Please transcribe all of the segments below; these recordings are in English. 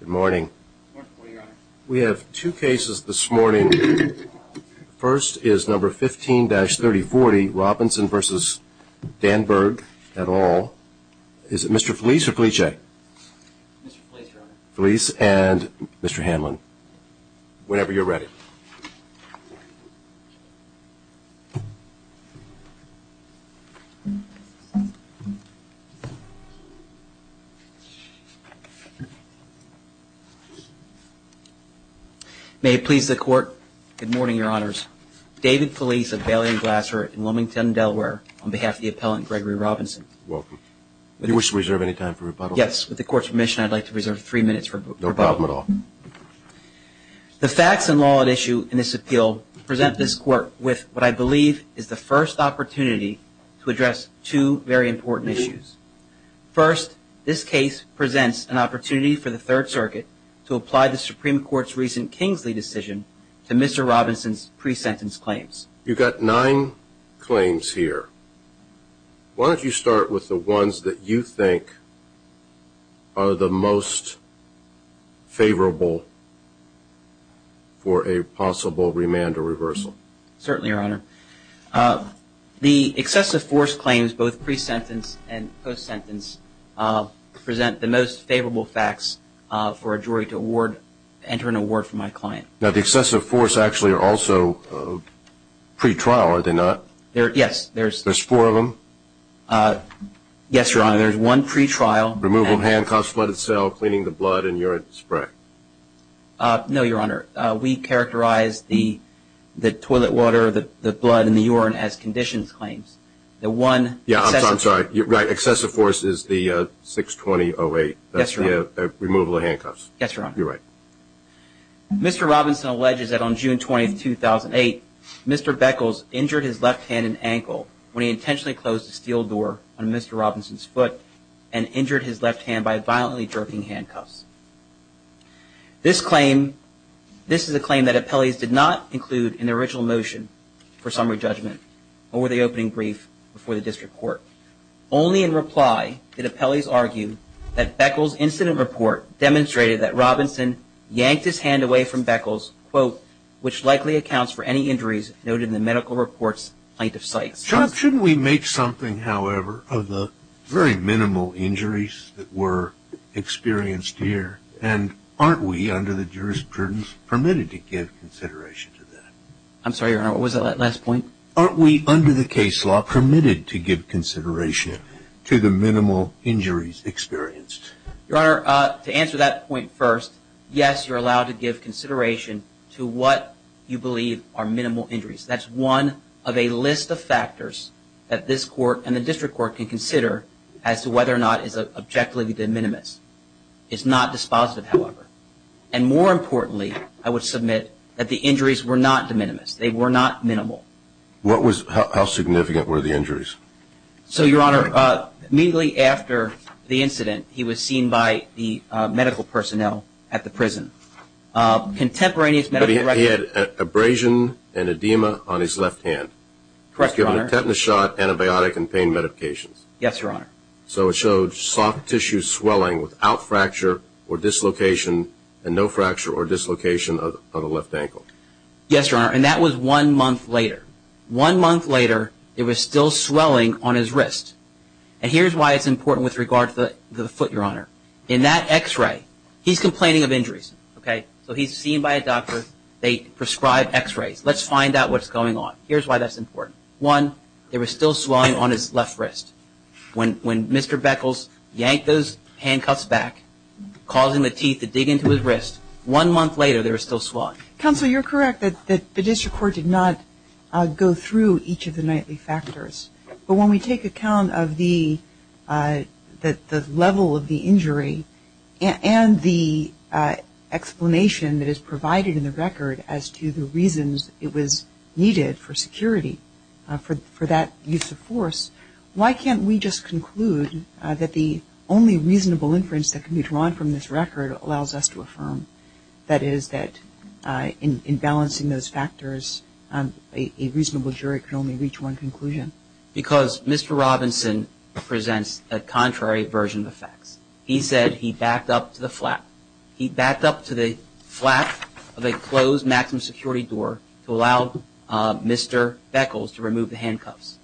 Good morning. We have two cases this morning. First is number 15-3040 Robinson versus Danberg at all. Is it Mr. Felice or Felice? Felice and Mr. Hamlin. Whenever you're ready. May it please the Court. Good morning, Your Honors. David Felice of Bailey and Glasser in Wilmington, Delaware, on behalf of the appellant Gregory Robinson. Welcome. Do you wish to reserve any time for rebuttal? Yes. With the Court's permission, I'd like to reserve three minutes for rebuttal. No problem at all. The facts and law at issue in this appeal present this Court with what I believe is the first opportunity to address two very important issues. First, this case presents an opportunity for the Third Circuit to apply the Supreme Court's recent Kingsley decision to Mr. Robinson's pre-sentence claims. You've got nine claims here. Why don't you start with the ones that you think are the most favorable for a possible remand or reversal? Certainly, Your Honor. The excessive force claims, both pre-sentence and post-sentence, present the most favorable facts for a jury to enter an award for my client. Now, the excessive force actually are also pre-trial, are they not? Yes. There's four of them? Yes, Your Honor. There's one pre-trial. Removal of handcuffs, flooded cell, cleaning the blood and urine spray. No, Your Honor. We characterize the toilet water, the blood, and the urine as conditions claims. Yeah, I'm sorry. Right. Excessive force is the 620-08. That's the removal of handcuffs. Yes, Your Honor. You're right. Mr. Robinson alleges that on June 20, 2008, Mr. Beckles injured his left hand and ankle when he intentionally closed a steel door on Mr. Robinson's foot and injured his left hand by violently jerking handcuffs. This claim, this is a claim that appellees did not include in the original motion for summary judgment or the opening brief before the district court. Only in reply did appellees argue that Beckles' incident report demonstrated that Robinson yanked his hand away from Beckles, quote, which likely accounts for any injuries noted in the medical report's plaintiff's cites. Shouldn't we make something, however, of the very minimal injuries that were experienced here? And aren't we, under the jurisprudence, permitted to give consideration to that? I'm sorry, Your Honor. What was that last point? Aren't we, under the case law, permitted to give consideration to the minimal injuries experienced? Your Honor, to answer that point first, yes, you're allowed to give consideration to what you believe are minimal injuries. That's one of a list of factors that this court and the district court can consider as to whether or not it's objectively de minimis. It's not dispositive, however. And more importantly, I would submit that the injuries were not de minimis. They were not minimal. What was – how significant were the injuries? So, Your Honor, immediately after the incident, he was seen by the medical personnel at the prison. Contemporaneous medical records – But he had abrasion and edema on his left hand. Correct, Your Honor. He was given a tetanus shot, antibiotic, and pain medications. Yes, Your Honor. So it showed soft tissue swelling without fracture or dislocation and no fracture or dislocation of the left ankle. Yes, Your Honor, and that was one month later. One month later, there was still swelling on his wrist. And here's why it's important with regard to the foot, Your Honor. In that x-ray, he's complaining of injuries, okay? So he's seen by a doctor. They prescribe x-rays. Let's find out what's going on. Here's why that's important. One, there was still swelling on his left wrist. When Mr. Beckles yanked those handcuffs back, causing the teeth to dig into his wrist, one month later there was still swelling. Counsel, you're correct that the district court did not go through each of the nightly factors. But when we take account of the level of the injury and the explanation that is provided in the record as to the reasons it was needed for security, for that use of force, why can't we just conclude that the only reasonable inference that can be drawn from this record allows us to affirm, that is, that in balancing those factors, a reasonable jury can only reach one conclusion? Because Mr. Robinson presents a contrary version of the facts. He said he backed up to the flat. He backed up to the flat of a closed maximum security door to allow Mr. Beckles to remove the handcuffs.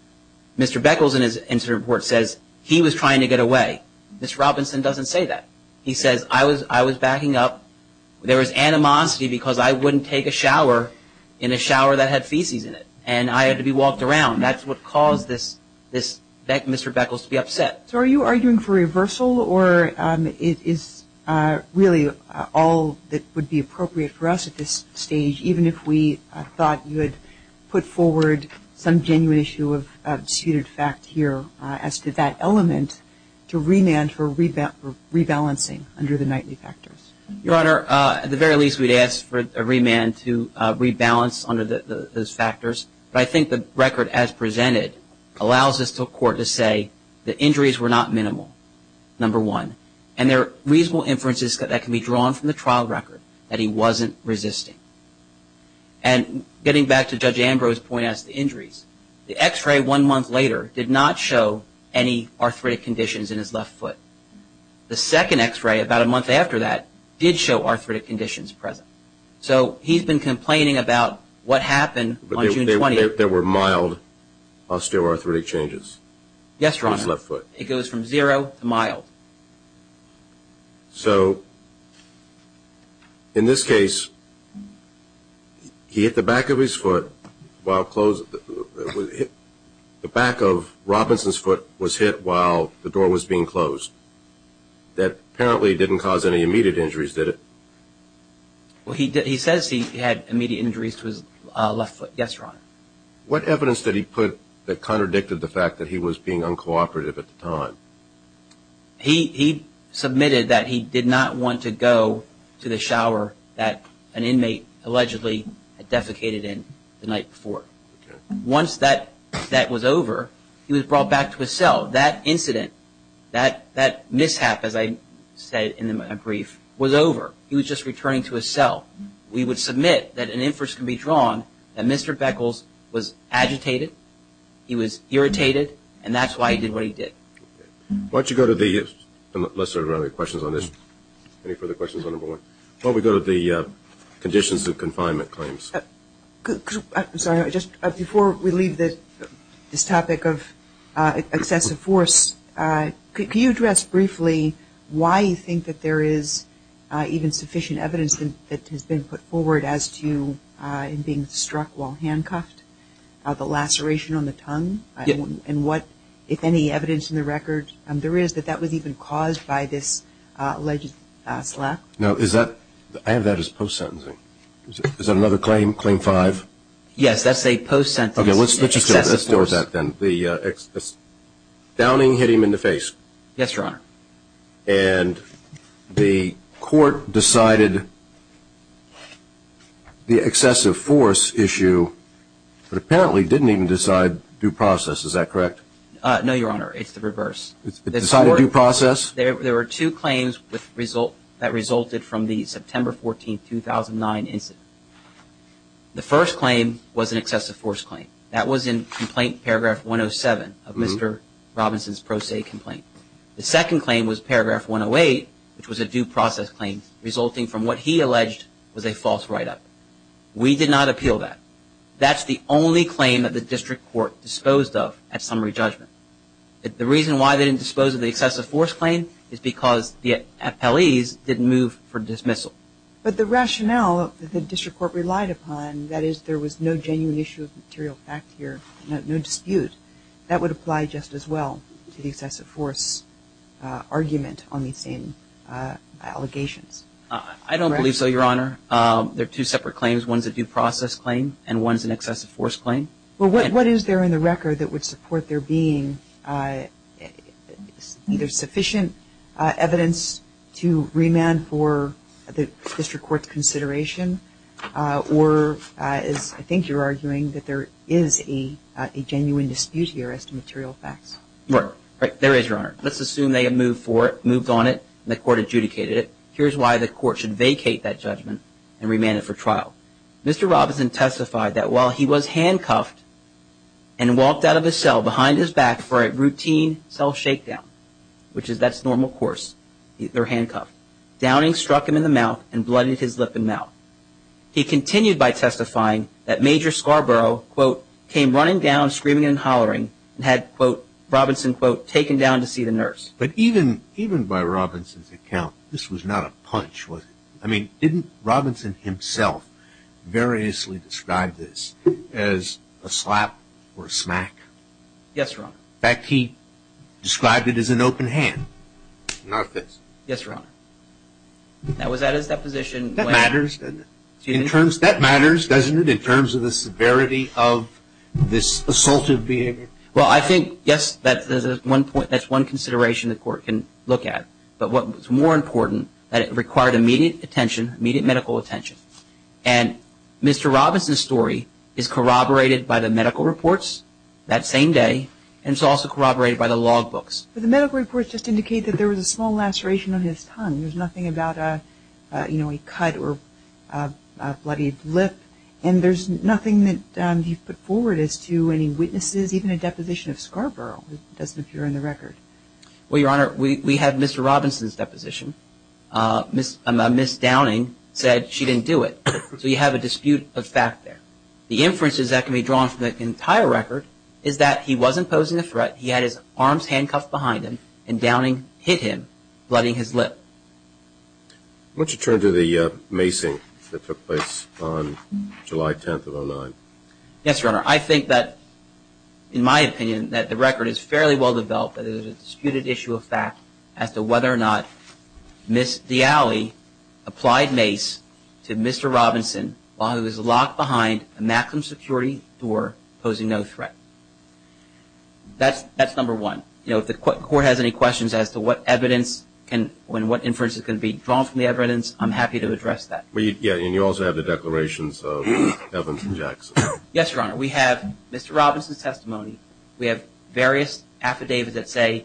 Mr. Beckles, in his incident report, says he was trying to get away. Mr. Robinson doesn't say that. He says, I was backing up. There was animosity because I wouldn't take a shower in a shower that had feces in it, and I had to be walked around. That's what caused Mr. Beckles to be upset. So are you arguing for reversal, or it is really all that would be appropriate for us at this stage, even if we thought you had put forward some genuine issue of disputed fact here as to that element, to remand for rebalancing under the nightly factors? Your Honor, at the very least, we'd ask for a remand to rebalance under those factors. But I think the record as presented allows us to say the injuries were not minimal, number one, and there are reasonable inferences that can be drawn from the trial record that he wasn't resisting. And getting back to Judge Ambrose's point as to injuries, the x-ray one month later did not show any arthritic conditions in his left foot. The second x-ray about a month after that did show arthritic conditions present. So he's been complaining about what happened on June 20th. There were mild osteoarthritic changes in his left foot. Yes, Your Honor. It goes from zero to mild. So in this case, he hit the back of his foot while closed. The back of Robinson's foot was hit while the door was being closed. That apparently didn't cause any immediate injuries, did it? Well, he says he had immediate injuries to his left foot. Yes, Your Honor. What evidence did he put that contradicted the fact that he was being uncooperative at the time? He submitted that he did not want to go to the shower that an inmate allegedly defecated in the night before. Once that was over, he was brought back to his cell. So that incident, that mishap, as I said in a brief, was over. He was just returning to his cell. We would submit that an inference can be drawn that Mr. Beckles was agitated, he was irritated, and that's why he did what he did. Why don't you go to the other questions on this? Any further questions on number one? Why don't we go to the conditions of confinement claims? Sorry, just before we leave this topic of excessive force, can you address briefly why you think that there is even sufficient evidence that has been put forward as to him being struck while handcuffed? The laceration on the tongue? Yes. And what, if any, evidence in the record there is that that was even caused by this alleged slap? No, I have that as post-sentencing. Is that another claim, claim five? Yes, that's a post-sentence excessive force. Okay, let's go with that then. Downing hit him in the face. Yes, Your Honor. And the court decided the excessive force issue, but apparently didn't even decide due process. Is that correct? No, Your Honor. It's the reverse. It decided due process? There were two claims that resulted from the September 14, 2009 incident. The first claim was an excessive force claim. That was in complaint paragraph 107 of Mr. Robinson's pro se complaint. The second claim was paragraph 108, which was a due process claim, resulting from what he alleged was a false write-up. We did not appeal that. That's the only claim that the district court disposed of at summary judgment. The reason why they didn't dispose of the excessive force claim is because the appellees didn't move for dismissal. But the rationale that the district court relied upon, that is, there was no genuine issue of material fact here, no dispute, that would apply just as well to the excessive force argument on these same allegations. I don't believe so, Your Honor. There are two separate claims. One is a due process claim and one is an excessive force claim. Well, what is there in the record that would support there being either sufficient evidence to remand for the district court's consideration or, as I think you're arguing, that there is a genuine dispute here as to material facts? There is, Your Honor. Let's assume they had moved for it, moved on it, and the court adjudicated it. Here's why the court should vacate that judgment and remand it for trial. Mr. Robinson testified that while he was handcuffed and walked out of his cell behind his back for a routine cell shakedown, which is that's normal course, either handcuffed, downing struck him in the mouth and bloodied his lip and mouth. He continued by testifying that Major Scarborough, quote, came running down screaming and hollering and had, quote, Robinson, quote, taken down to see the nurse. But even by Robinson's account, this was not a punch, was it? I mean, didn't Robinson himself variously describe this as a slap or a smack? Yes, Your Honor. In fact, he described it as an open hand, not a fist. Yes, Your Honor. That was at his deposition. That matters, doesn't it, in terms of the severity of this assaultive behavior? Well, I think, yes, that's one consideration the court can look at. But what's more important, that it required immediate attention, immediate medical attention. And Mr. Robinson's story is corroborated by the medical reports that same day. And it's also corroborated by the log books. But the medical reports just indicate that there was a small laceration on his tongue. There's nothing about, you know, a cut or a bloodied lip. And there's nothing that you've put forward as to any witnesses, even a deposition of Scarborough. It doesn't appear in the record. Well, Your Honor, we have Mr. Robinson's deposition. Ms. Downing said she didn't do it. So you have a dispute of fact there. The inferences that can be drawn from the entire record is that he wasn't posing a threat, he had his arms handcuffed behind him, and Downing hit him, bloodied his lip. Why don't you turn to the macing that took place on July 10th of 2009? Yes, Your Honor. Your Honor, I think that, in my opinion, that the record is fairly well developed that there's a disputed issue of fact as to whether or not Ms. Diale applied mace to Mr. Robinson while he was locked behind a maximum security door, posing no threat. That's number one. You know, if the Court has any questions as to what evidence can and what inferences can be drawn from the evidence, I'm happy to address that. Yeah, and you also have the declarations of Evans and Jackson. Yes, Your Honor. We have Mr. Robinson's testimony. We have various affidavits that say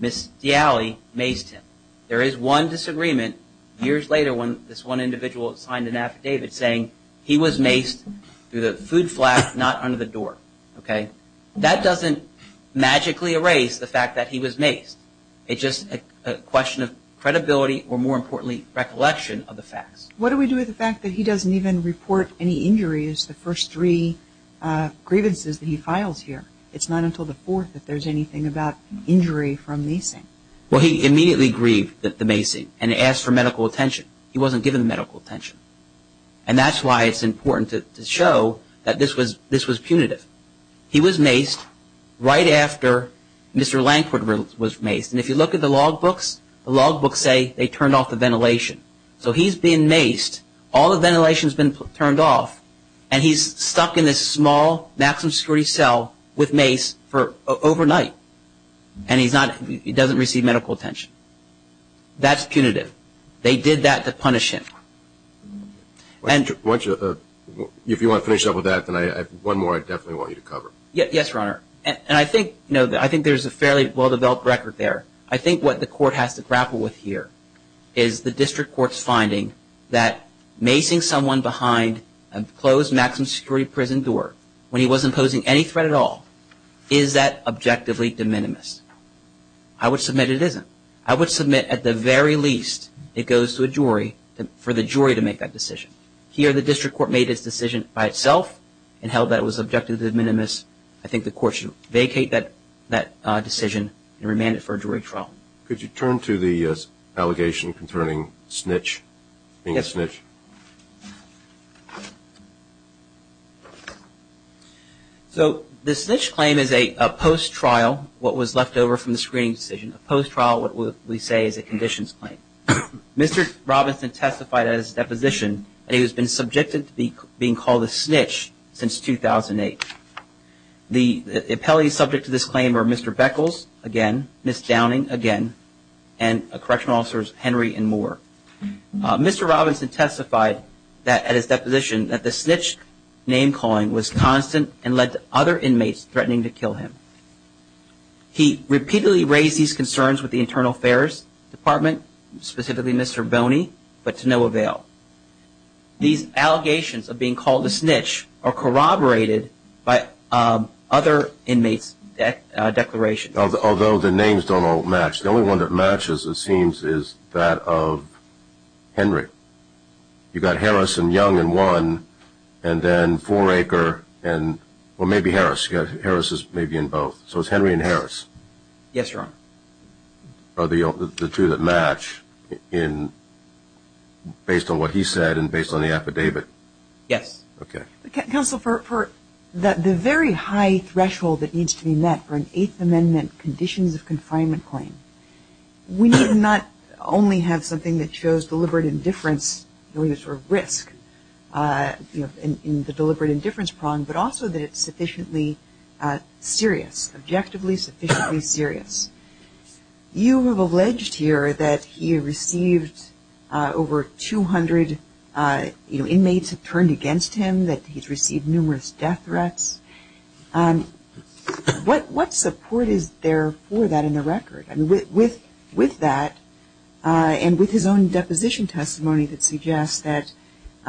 Ms. Diale maced him. There is one disagreement years later when this one individual signed an affidavit saying he was maced through the food flap, not under the door. That doesn't magically erase the fact that he was maced. It's just a question of credibility or, more importantly, recollection of the facts. What do we do with the fact that he doesn't even report any injuries, the first three grievances that he files here? It's not until the fourth that there's anything about injury from macing. Well, he immediately grieved the macing and asked for medical attention. He wasn't given medical attention. And that's why it's important to show that this was punitive. He was maced right after Mr. Lankford was maced. And if you look at the logbooks, the logbooks say they turned off the ventilation. So he's being maced, all the ventilation's been turned off, and he's stuck in this small maximum security cell with mace overnight. And he doesn't receive medical attention. That's punitive. They did that to punish him. If you want to finish up with that, then I have one more I definitely want you to cover. Yes, Your Honor. And I think there's a fairly well-developed record there. I think what the court has to grapple with here is the district court's finding that macing someone behind a closed maximum security prison door when he wasn't posing any threat at all, is that objectively de minimis? I would submit it isn't. I would submit at the very least it goes to a jury for the jury to make that decision. Here the district court made its decision by itself and held that it was objectively de minimis. I think the court should vacate that decision and remand it for a jury trial. Could you turn to the allegation concerning snitch being a snitch? Yes. So the snitch claim is a post-trial, what was left over from the screening decision. A post-trial, what we say, is a conditions claim. Mr. Robinson testified at his deposition that he has been subjected to being called a snitch since 2008. The appellees subject to this claim are Mr. Beckles, again, Ms. Downing, again, and correctional officers Henry and Moore. Mr. Robinson testified at his deposition that the snitch name calling was constant and led to other inmates threatening to kill him. He repeatedly raised these concerns with the Internal Affairs Department, specifically Mr. Boney, but to no avail. These allegations of being called a snitch are corroborated by other inmates' declarations. Although the names don't all match, the only one that matches, it seems, is that of Henry. You've got Harris and Young in one, and then Foraker and, well, maybe Harris. Harris is maybe in both. Yes, Your Honor. Are the two that match based on what he said and based on the affidavit? Yes. Okay. Counsel, for the very high threshold that needs to be met for an Eighth Amendment conditions of confinement claim, we need not only have something that shows deliberate indifference or risk in the deliberate indifference prong, but also that it's sufficiently serious, objectively sufficiently serious. You have alleged here that he received over 200 inmates have turned against him, that he's received numerous death threats. What support is there for that in the record? With that and with his own deposition testimony that suggests that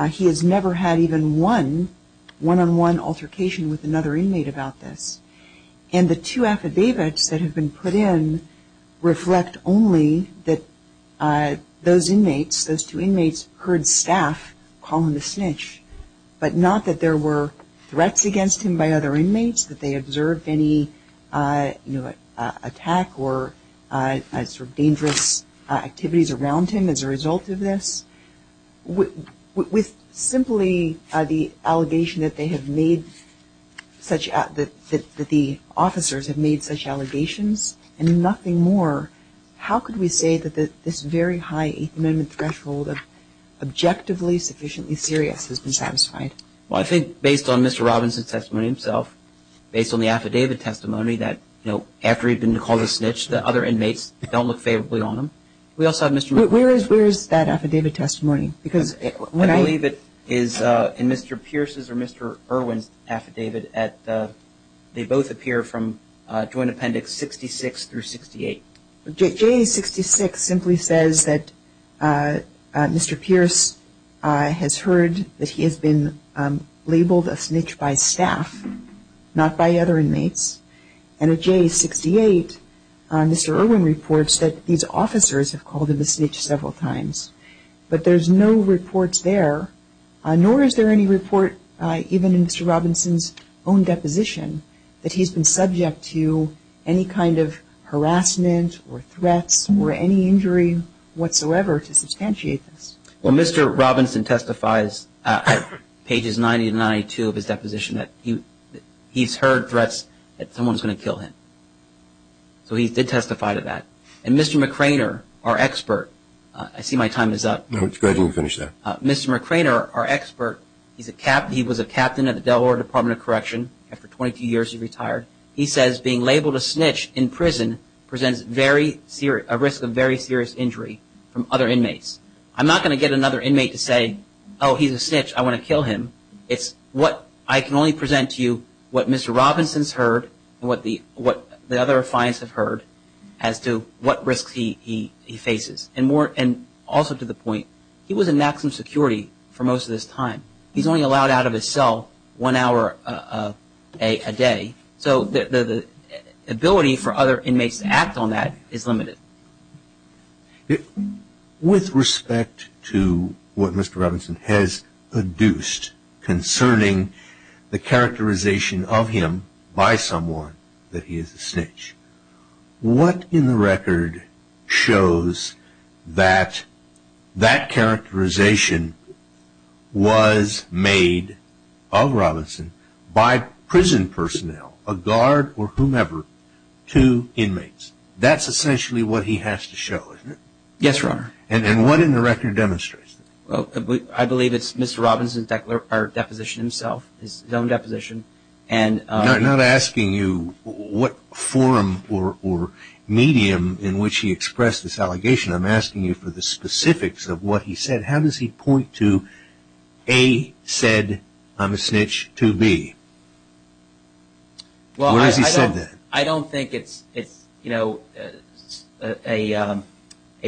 he has never had even one, one-on-one altercation with another inmate about this, and the two affidavits that have been put in reflect only that those inmates, those two inmates heard staff call him a snitch, but not that there were threats against him by other inmates, that they observed any, you know, attack or sort of dangerous activities around him as a result of this. With simply the allegation that they have made such, that the officers have made such allegations and nothing more, how could we say that this very high Eighth Amendment threshold of objectively sufficiently serious has been satisfied? Well, I think based on Mr. Robinson's testimony himself, based on the affidavit testimony that, you know, after he'd been called a snitch, the other inmates don't look favorably on him. We also have Mr. Where is that affidavit testimony? Because when I I believe it is in Mr. Pierce's or Mr. Irwin's affidavit at the, they both appear from Joint Appendix 66 through 68. J66 simply says that Mr. Pierce has heard that he has been labeled a snitch by staff, not by other inmates. And at J68, Mr. Irwin reports that these officers have called him a snitch several times. But there's no reports there, nor is there any report even in Mr. Robinson's own deposition that he's been subject to any kind of harassment or threats or any injury whatsoever to substantiate this. Well, Mr. Robinson testifies at pages 90 to 92 of his deposition that he's heard threats that someone's going to kill him. So he did testify to that. And Mr. McRainer, our expert, I see my time is up. No, go ahead and finish that. Mr. McRainer, our expert, he was a captain at the Delaware Department of Correction. After 22 years, he retired. He says being labeled a snitch in prison presents a risk of very serious injury from other inmates. I'm not going to get another inmate to say, oh, he's a snitch, I want to kill him. It's what I can only present to you what Mr. Robinson's heard and what the other clients have heard as to what risks he faces. And also to the point, he was in maximum security for most of this time. He's only allowed out of his cell one hour a day. So the ability for other inmates to act on that is limited. With respect to what Mr. Robinson has produced concerning the characterization of him by someone that he is a snitch, what in the record shows that that characterization was made of Robinson by prison personnel, a guard or whomever, to inmates? That's essentially what he has to show, isn't it? Yes, Your Honor. And what in the record demonstrates that? I believe it's Mr. Robinson's deposition himself, his own deposition. I'm not asking you what form or medium in which he expressed this allegation. I'm asking you for the specifics of what he said. How does he point to, A, said, I'm a snitch, to B? Where has he said that? I don't think it's a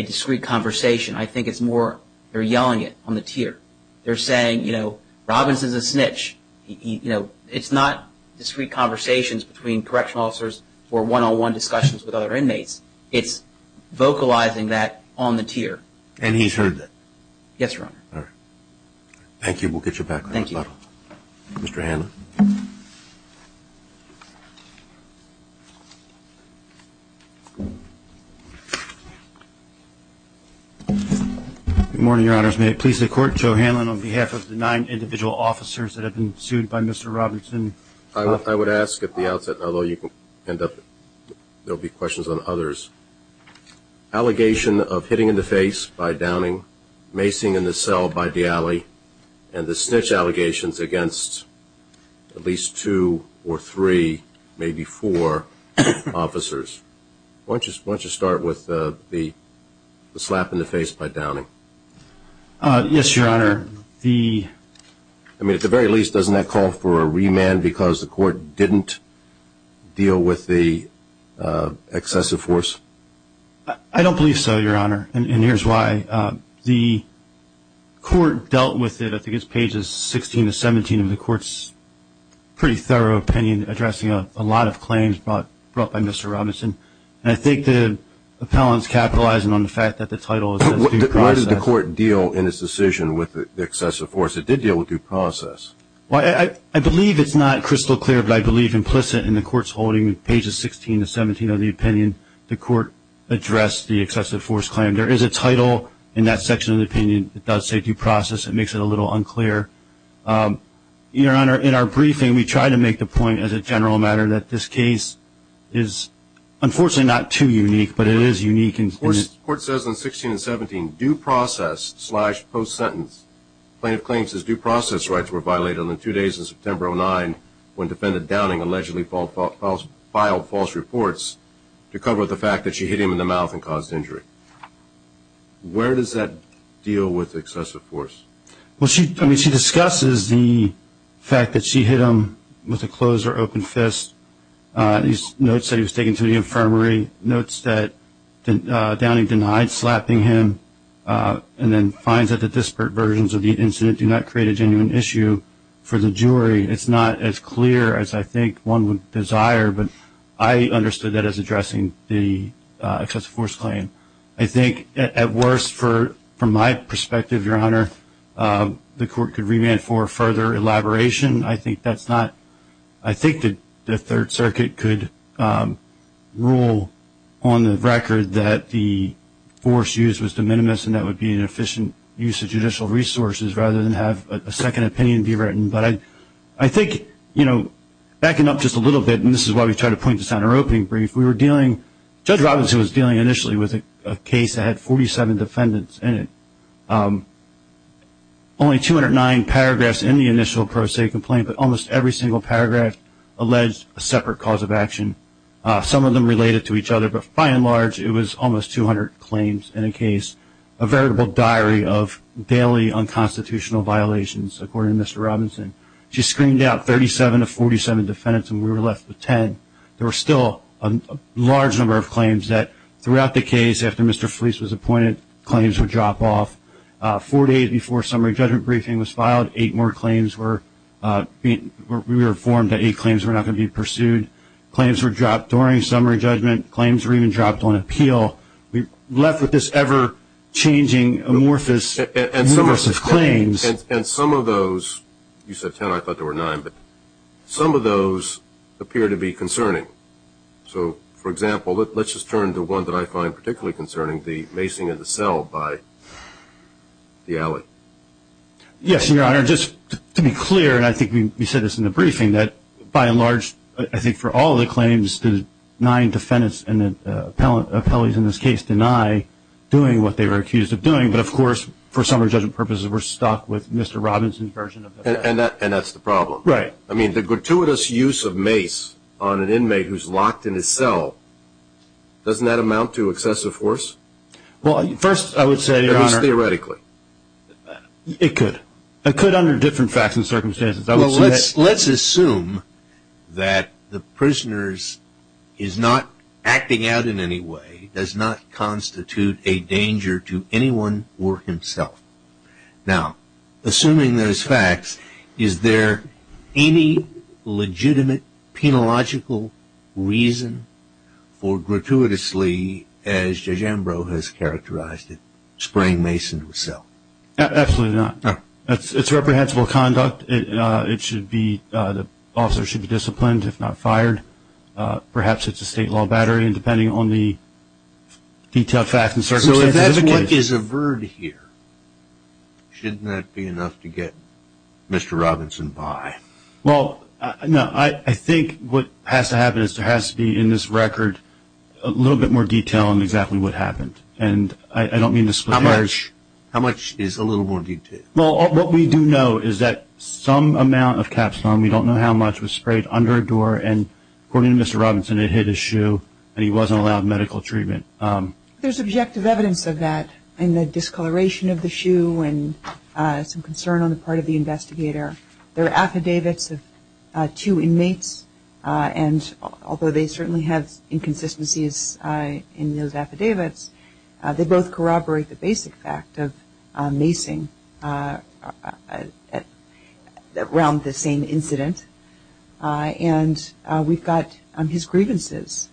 discreet conversation. I think it's more they're yelling it on the tier. They're saying, you know, Robinson's a snitch. It's not discreet conversations between correctional officers or one-on-one discussions with other inmates. It's vocalizing that on the tier. And he's heard that? Yes, Your Honor. All right. Thank you. We'll get you back. Thank you. Mr. Hanlon. Good morning, Your Honors. May it please the Court, Joe Hanlon, on behalf of the nine individual officers that have been sued by Mr. Robinson. I would ask at the outset, although you can end up, there will be questions on others, allegation of hitting in the face by Downing, macing in the cell by D'Ali, and the snitch allegations against at least two or three, maybe four officers. Why don't you start with the slap in the face by Downing? Yes, Your Honor. I mean, at the very least, doesn't that call for a remand because the Court didn't deal with the excessive force? I don't believe so, Your Honor, and here's why. The Court dealt with it, I think it's pages 16 to 17 of the Court's pretty thorough opinion, addressing a lot of claims brought by Mr. Robinson. And I think the appellant's capitalizing on the fact that the title is due process. Why did the Court deal in its decision with the excessive force? It did deal with due process. Well, I believe it's not crystal clear, but I believe implicit in the Court's holding, pages 16 to 17 of the opinion, the Court addressed the excessive force claim. There is a title in that section of the opinion that does say due process. It makes it a little unclear. Your Honor, in our briefing, we try to make the point as a general matter that this case is unfortunately not too unique, but it is unique. The Court says in 16 and 17, due process slash post-sentence, plaintiff claims his due process rights were violated on the two days of September 09 when defendant Downing allegedly filed false reports to cover the fact that she hit him in the mouth and caused injury. Where does that deal with excessive force? Well, she discusses the fact that she hit him with a closed or open fist. She notes that he was taken to the infirmary, notes that Downing denied slapping him, and then finds that the disparate versions of the incident do not create a genuine issue for the jury. It's not as clear as I think one would desire, but I understood that as addressing the excessive force claim. I think, at worst, from my perspective, Your Honor, the Court could remand for further elaboration. I think that's not, I think the Third Circuit could rule on the record that the force used was de minimis and that would be an efficient use of judicial resources rather than have a second opinion be written. But I think, you know, backing up just a little bit, and this is why we try to point this out in our opening brief, we were dealing, Judge Robinson was dealing initially with a case that had 47 defendants in it. Only 209 paragraphs in the initial pro se complaint, but almost every single paragraph alleged a separate cause of action. Some of them related to each other, but by and large, it was almost 200 claims in a case, a veritable diary of daily unconstitutional violations, according to Mr. Robinson. She screened out 37 of 47 defendants and we were left with 10. There were still a large number of claims that throughout the case, after Mr. Fleece was appointed, claims would drop off. Four days before summary judgment briefing was filed, eight more claims were, we were informed that eight claims were not going to be pursued. Claims were dropped during summary judgment. Claims were even dropped on appeal. We were left with this ever-changing, amorphous, numerous of claims. And some of those, you said 10, I thought there were nine, but some of those appear to be concerning. So, for example, let's just turn to one that I find particularly concerning, the macing of the cell by the alley. Yes, Your Honor. Just to be clear, and I think we said this in the briefing, that by and large, I think for all the claims, the nine defendants and the appellees in this case deny doing what they were accused of doing. But, of course, for summary judgment purposes, we're stuck with Mr. Robinson's version of it. And that's the problem. Right. I mean, the gratuitous use of mace on an inmate who's locked in his cell, doesn't that amount to excessive force? Well, first I would say, Your Honor. At least theoretically. It could. It could under different facts and circumstances. I would say that. Well, let's assume that the prisoner is not acting out in any way, does not constitute a danger to anyone or himself. Now, assuming those facts, is there any legitimate, penological reason for gratuitously, as Judge Ambrose has characterized it, spraying mace into a cell? Absolutely not. It's reprehensible conduct. It should be, the officer should be disciplined, if not fired. Perhaps it's a state law battery, and depending on the detailed facts and circumstances. So if that's what is averred here, shouldn't that be enough to get Mr. Robinson by? Well, no. I think what has to happen is there has to be in this record a little bit more detail on exactly what happened. And I don't mean to split hairs. How much? How much is a little more detail? Well, what we do know is that some amount of capstone, we don't know how much, was sprayed under a door, and according to Mr. Robinson, it hit his shoe and he wasn't allowed medical treatment. There's objective evidence of that in the discoloration of the shoe and some concern on the part of the investigator. There are affidavits of two inmates, and although they certainly have inconsistencies in those affidavits, they both corroborate the basic fact of macing around the same incident. And we've got his grievances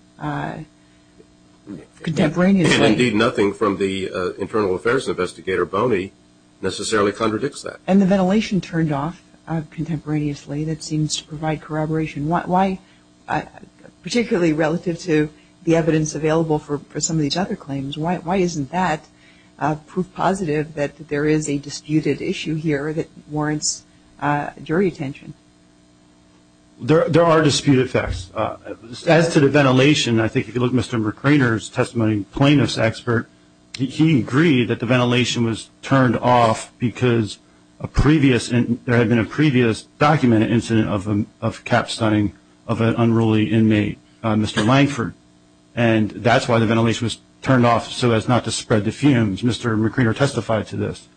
contemporaneously. Indeed, nothing from the internal affairs investigator, Boney, necessarily contradicts that. And the ventilation turned off contemporaneously. That seems to provide corroboration. Particularly relative to the evidence available for some of these other claims, why isn't that proof positive that there is a disputed issue here that warrants jury attention? There are dispute effects. As to the ventilation, I think if you look at Mr. McRainer's testimony, plaintiff's expert, he agreed that the ventilation was turned off because there had been a previous documented incident of capstoning of an unruly inmate, Mr. Langford. And that's why the ventilation was turned off, so as not to spread the fumes. Mr. McRainer testified to this.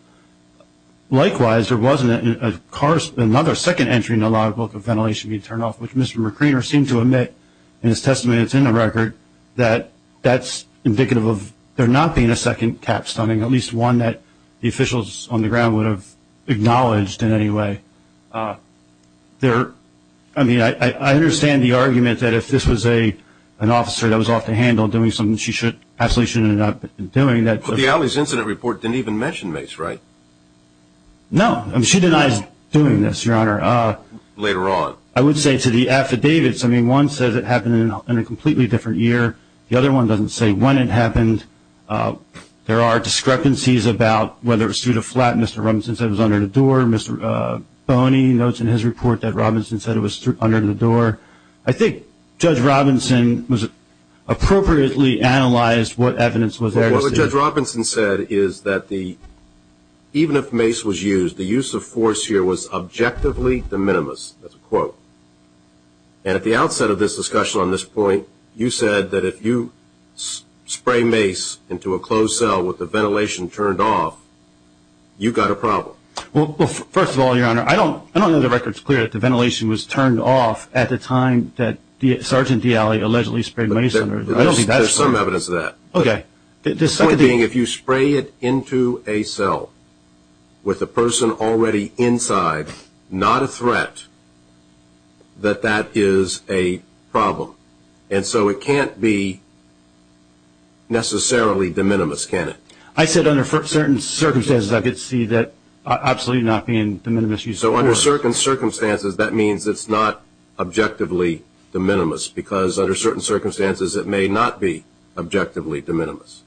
Likewise, there was another second entry in the logbook of ventilation being turned off, which Mr. McRainer seemed to admit in his testimony that's in the record, that that's indicative of there not being a second capstoning, at least one that the officials on the ground would have acknowledged in any way. I mean, I understand the argument that if this was an officer that was off the handle doing something, she absolutely shouldn't have been doing that. But the alleys incident report didn't even mention Mace, right? No. She denies doing this, Your Honor. Later on. I would say to the affidavits, I mean, one says it happened in a completely different year. The other one doesn't say when it happened. There are discrepancies about whether it was through the flat Mr. Robinson said was under the door, Mr. Boney notes in his report that Robinson said it was under the door. I think Judge Robinson appropriately analyzed what evidence was there. Well, what Judge Robinson said is that even if Mace was used, the use of force here was objectively de minimis. That's a quote. And at the outset of this discussion on this point, you said that if you spray Mace into a closed cell with the ventilation turned off, you've got a problem. Well, first of all, Your Honor, I don't know the record is clear that the ventilation was turned off at the time that Sergeant D'Ali allegedly sprayed Mace. There's some evidence of that. Okay. The point being if you spray it into a cell with a person already inside, not a threat, that that is a problem. And so it can't be necessarily de minimis, can it? I said under certain circumstances I could see that absolutely not being de minimis use of force. So under certain circumstances, that means it's not objectively de minimis because under certain circumstances it may not be objectively de minimis.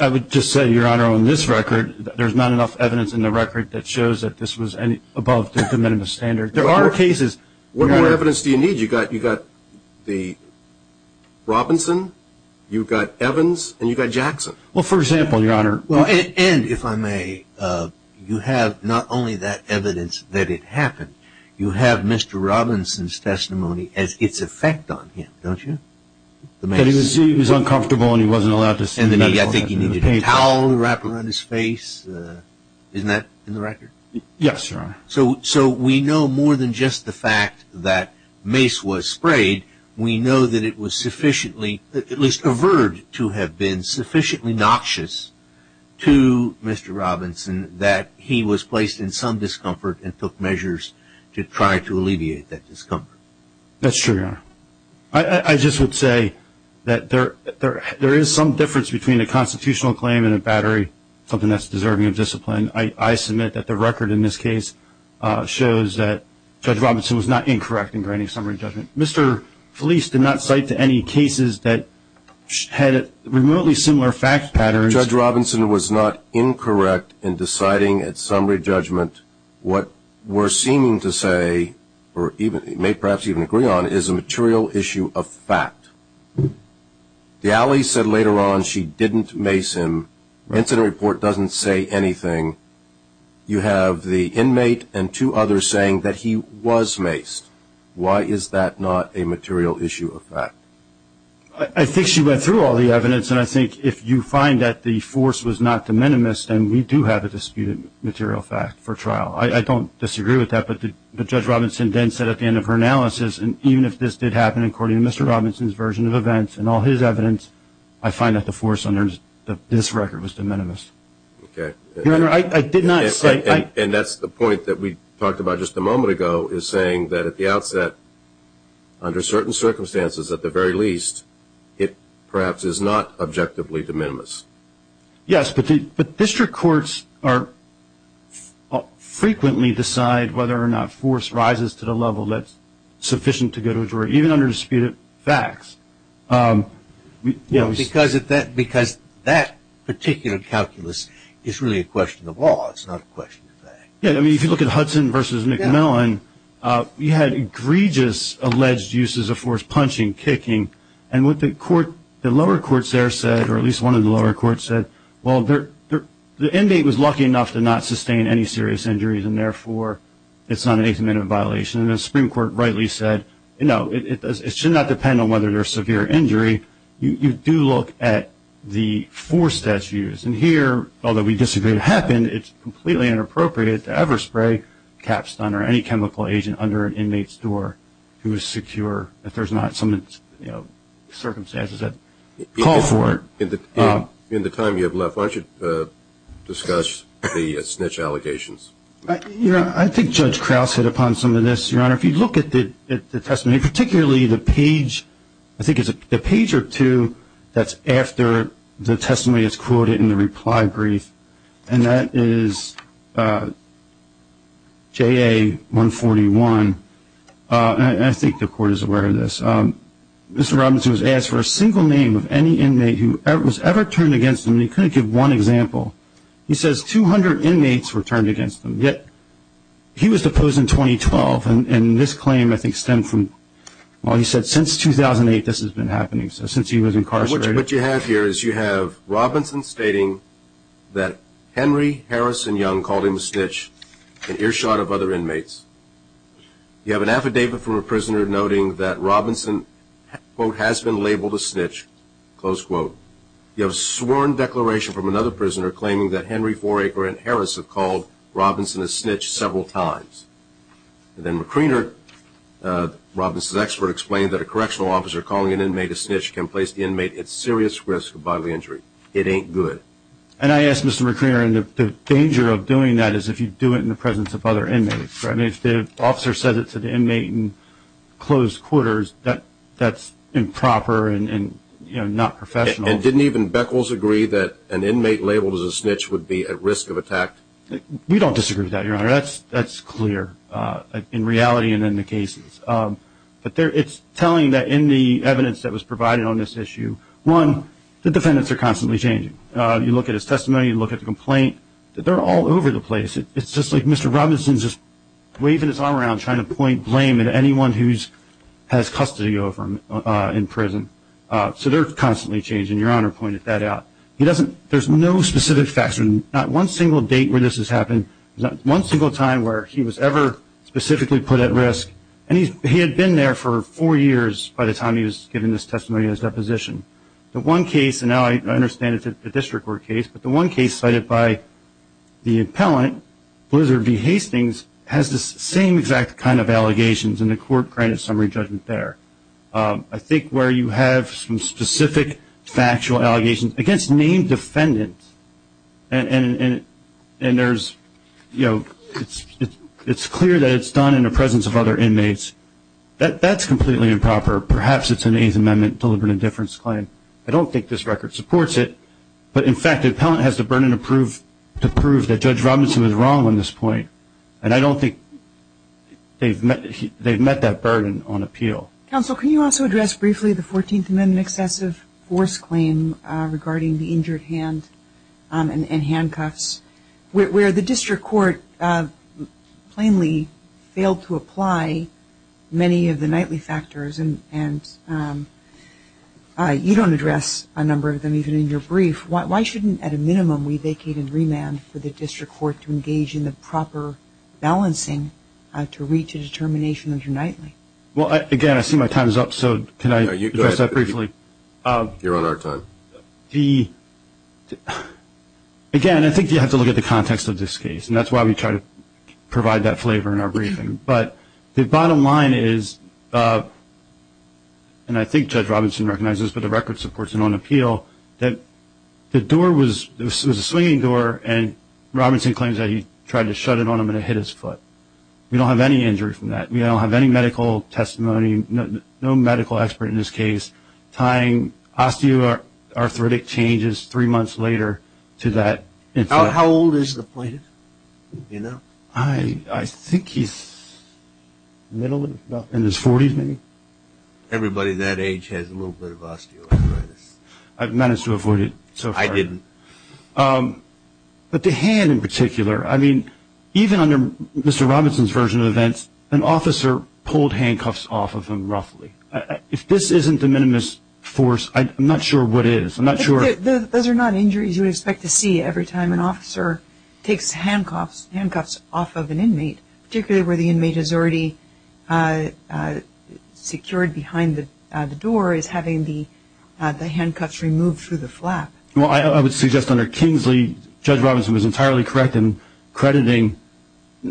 I would just say, Your Honor, on this record, there's not enough evidence in the record that shows that this was above the de minimis standard. There are cases. What more evidence do you need? You've got Robinson, you've got Evans, and you've got Jackson. Well, for example, Your Honor. And, if I may, you have not only that evidence that it happened, you have Mr. Robinson's testimony as its effect on him, don't you? That he was uncomfortable and he wasn't allowed to stand up. And I think he needed a towel wrapped around his face. Isn't that in the record? Yes, Your Honor. So we know more than just the fact that Mace was sprayed. We know that it was sufficiently, at least averted to have been, sufficiently noxious to Mr. Robinson that he was placed in some discomfort and took measures to try to alleviate that discomfort. That's true, Your Honor. I just would say that there is some difference between a constitutional claim and a battery, something that's deserving of discipline. I submit that the record in this case shows that Judge Robinson was not incorrect in granting summary judgment. Mr. Felice did not cite any cases that had remotely similar fact patterns. Judge Robinson was not incorrect in deciding at summary judgment what we're seeming to say, or may perhaps even agree on, is a material issue of fact. The alley said later on she didn't mace him. The incident report doesn't say anything. You have the inmate and two others saying that he was maced. Why is that not a material issue of fact? I think she went through all the evidence, and I think if you find that the force was not de minimis, then we do have a disputed material fact for trial. I don't disagree with that, but Judge Robinson then said at the end of her analysis, and even if this did happen according to Mr. Robinson's version of events and all his evidence, I find that the force under this record was de minimis. Okay. Your Honor, I did not say. And that's the point that we talked about just a moment ago, is saying that at the outset, under certain circumstances, at the very least, it perhaps is not objectively de minimis. Yes, but district courts frequently decide whether or not force rises to the level that's sufficient to go to a jury, even under disputed facts. Because that particular calculus is really a question of law. It's not a question of fact. Yes, I mean, if you look at Hudson v. McMillan, you had egregious alleged uses of force, punching, kicking, and what the lower courts there said, or at least one of the lower courts said, well, the inmate was lucky enough to not sustain any serious injuries, and therefore it's not a de minimis violation. And the Supreme Court rightly said, you know, it should not depend on whether there's severe injury. You do look at the force that's used. And here, although we disagree it happened, it's completely inappropriate to ever spray capstone or any chemical agent under an inmate's door who is secure, if there's not some circumstances that call for it. In the time you have left, why don't you discuss the snitch allegations? I think Judge Krause hit upon some of this, Your Honor. If you look at the testimony, particularly the page, I think it's a page or two, that's after the testimony is quoted in the reply brief, and that is JA-141. And I think the Court is aware of this. Mr. Robinson was asked for a single name of any inmate who was ever turned against him, and he couldn't give one example. He says 200 inmates were turned against him, yet he was deposed in 2012. And this claim, I think, stemmed from, well, he said since 2008 this has been happening, so since he was incarcerated. What you have here is you have Robinson stating that Henry Harrison Young called him a snitch in earshot of other inmates. You have an affidavit from a prisoner noting that Robinson, quote, has been labeled a snitch, close quote. You have a sworn declaration from another prisoner claiming that Henry Foraker and Harrison called Robinson a snitch several times. And then McReener, Robinson's expert, explained that a correctional officer calling an inmate a snitch can place the inmate at serious risk of bodily injury. It ain't good. And I ask Mr. McReener, the danger of doing that is if you do it in the presence of other inmates. If the officer says it to the inmate in closed quarters, that's improper and not professional. And didn't even Beckles agree that an inmate labeled as a snitch would be at risk of attack? We don't disagree with that, Your Honor. That's clear in reality and in the cases. But it's telling that in the evidence that was provided on this issue, one, the defendants are constantly changing. You look at his testimony. You look at the complaint. They're all over the place. It's just like Mr. Robinson's just waving his arm around, trying to point blame at anyone who has custody over him in prison. So they're constantly changing. Your Honor pointed that out. There's no specific facts. Not one single date where this has happened, not one single time where he was ever specifically put at risk. And he had been there for four years by the time he was given this testimony and his deposition. The one case, and now I understand it's a district court case, but the one case cited by the appellant, Blizzard B. Hastings, has the same exact kind of allegations, and the court granted summary judgment there. I think where you have some specific factual allegations against named defendants, and it's clear that it's done in the presence of other inmates, that's completely improper. Perhaps it's an Eighth Amendment deliberate indifference claim. I don't think this record supports it. But, in fact, the appellant has the burden to prove that Judge Robinson was wrong on this point, and I don't think they've met that burden on appeal. Counsel, can you also address briefly the Fourteenth Amendment excessive force claim regarding the injured hand and handcuffs, where the district court plainly failed to apply many of the nightly factors, and you don't address a number of them even in your brief. Why shouldn't, at a minimum, we vacate and remand for the district court to engage in the proper balancing to reach a determination of your nightly? Well, again, I see my time is up, so can I address that briefly? You're on our time. Again, I think you have to look at the context of this case, and that's why we try to provide that flavor in our briefing. But the bottom line is, and I think Judge Robinson recognizes this, and I think the record supports it on appeal, that the door was a swinging door, and Robinson claims that he tried to shut it on him and it hit his foot. We don't have any injury from that. We don't have any medical testimony, no medical expert in this case, tying osteoarthritic changes three months later to that. How old is the plaintiff? I think he's middle of his 40s, maybe. Everybody that age has a little bit of osteoarthritis. I've managed to avoid it so far. I didn't. But the hand in particular, I mean, even under Mr. Robinson's version of events, an officer pulled handcuffs off of him roughly. If this isn't the minimus force, I'm not sure what is. Those are not injuries you would expect to see every time an officer takes handcuffs off of an inmate, particularly where the inmate is already secured behind the door, is having the handcuffs removed through the flap. Well, I would suggest under Kingsley, Judge Robinson was entirely correct in crediting,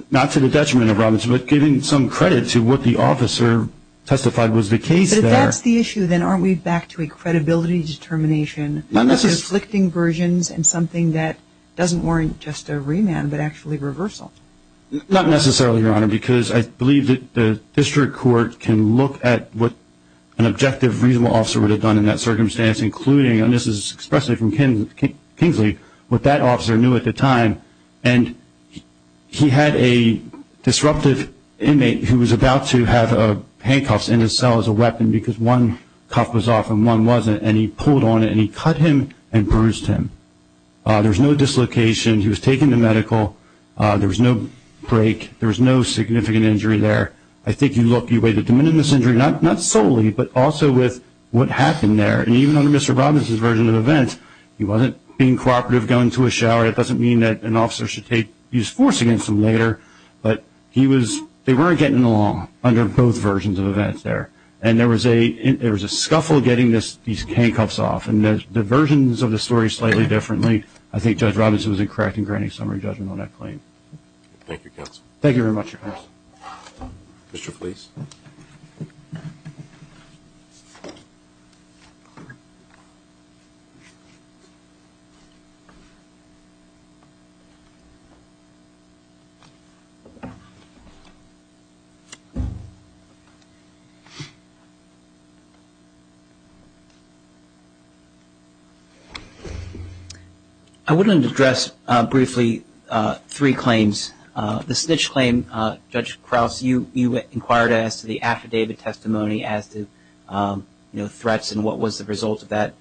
not to the detriment of Robinson, but giving some credit to what the officer testified was the case there. But if that's the issue, then aren't we back to a credibility determination, conflicting versions and something that doesn't warrant just a remand but actually reversal? Not necessarily, Your Honor, because I believe that the district court can look at what an objective, reasonable officer would have done in that circumstance, including, and this is expressly from Kingsley, what that officer knew at the time. And he had a disruptive inmate who was about to have handcuffs in his cell as a weapon because one cuff was off and one wasn't, and he pulled on it and he cut him and bruised him. There was no dislocation. He was taken to medical. There was no break. There was no significant injury there. I think you look, you weigh the de minimis injury, not solely, but also with what happened there. And even under Mr. Robinson's version of events, he wasn't being cooperative, going to his shower. It doesn't mean that an officer should take his force against him later, but they weren't getting along under both versions of events there. And there was a scuffle getting these handcuffs off, and the versions of the story slightly differently. I think Judge Robinson was incorrect in granting summary judgment on that claim. Thank you, counsel. Thank you very much, Your Honor. Mr. Fleece. I want to address briefly three claims. The snitch claim, Judge Krause, you inquired as to the affidavit testimony as to threats and what was the result of that.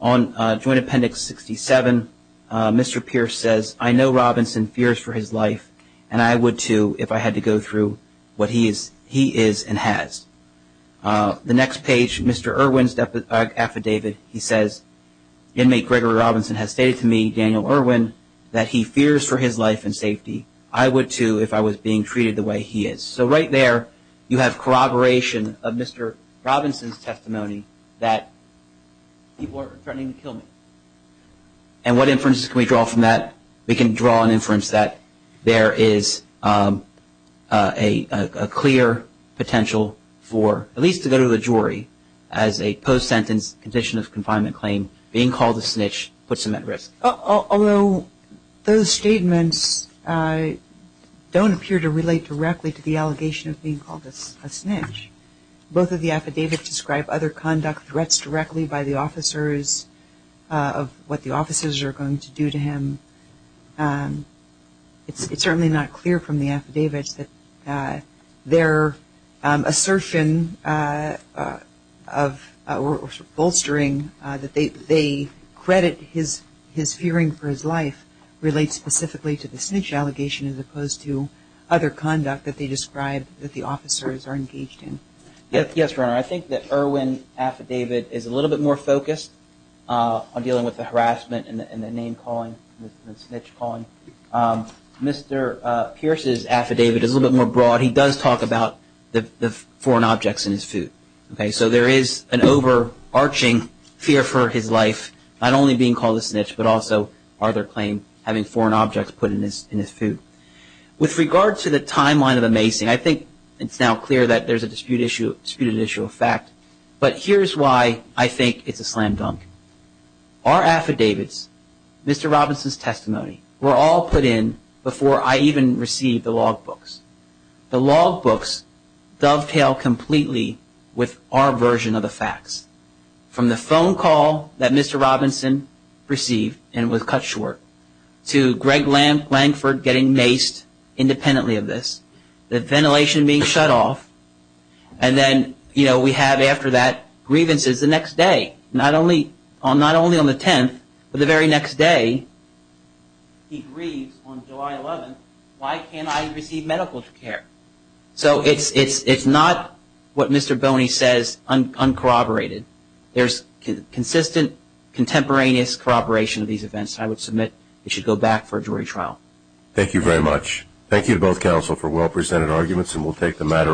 On Joint Appendix 67, Mr. Pierce says, I know Robinson fears for his life and I would too if I had to go through what he is and has. The next page, Mr. Irwin's affidavit, he says, Inmate Gregory Robinson has stated to me, Daniel Irwin, that he fears for his life and safety. I would too if I was being treated the way he is. So right there you have corroboration of Mr. Robinson's testimony that people are threatening to kill me. And what inferences can we draw from that? We can draw an inference that there is a clear potential for, at least to go to the jury, as a post-sentence condition of confinement claim, being called a snitch puts him at risk. Although those statements don't appear to relate directly to the allegation of being called a snitch. Both of the affidavits describe other conduct, threats directly by the officers of what the officers are going to do to him. It's certainly not clear from the affidavits that their assertion of or bolstering that they credit his fearing for his life relates specifically to the snitch allegation as opposed to other conduct that they describe that the officers are engaged in. Yes, Your Honor. I think that Irwin's affidavit is a little bit more focused on dealing with the harassment and the name calling, the snitch calling. Mr. Pierce's affidavit is a little bit more broad. He does talk about the foreign objects in his food. So there is an overarching fear for his life, not only being called a snitch, but also, Arthur claimed, having foreign objects put in his food. With regard to the timeline of the macing, I think it's now clear that there's a disputed issue of fact. But here's why I think it's a slam dunk. Our affidavits, Mr. Robinson's testimony, were all put in before I even received the logbooks. The logbooks dovetail completely with our version of the facts. From the phone call that Mr. Robinson received, and it was cut short, to Greg Langford getting maced independently of this, the ventilation being shut off, and then we have after that grievances the next day. Not only on the 10th, but the very next day, he grieves on July 11th, why can't I receive medical care? So it's not what Mr. Boney says, uncorroborated. There's consistent contemporaneous corroboration of these events. I would submit it should go back for a jury trial. Thank you very much. Thank you to both counsel for well-presented arguments, and we'll take the matter on.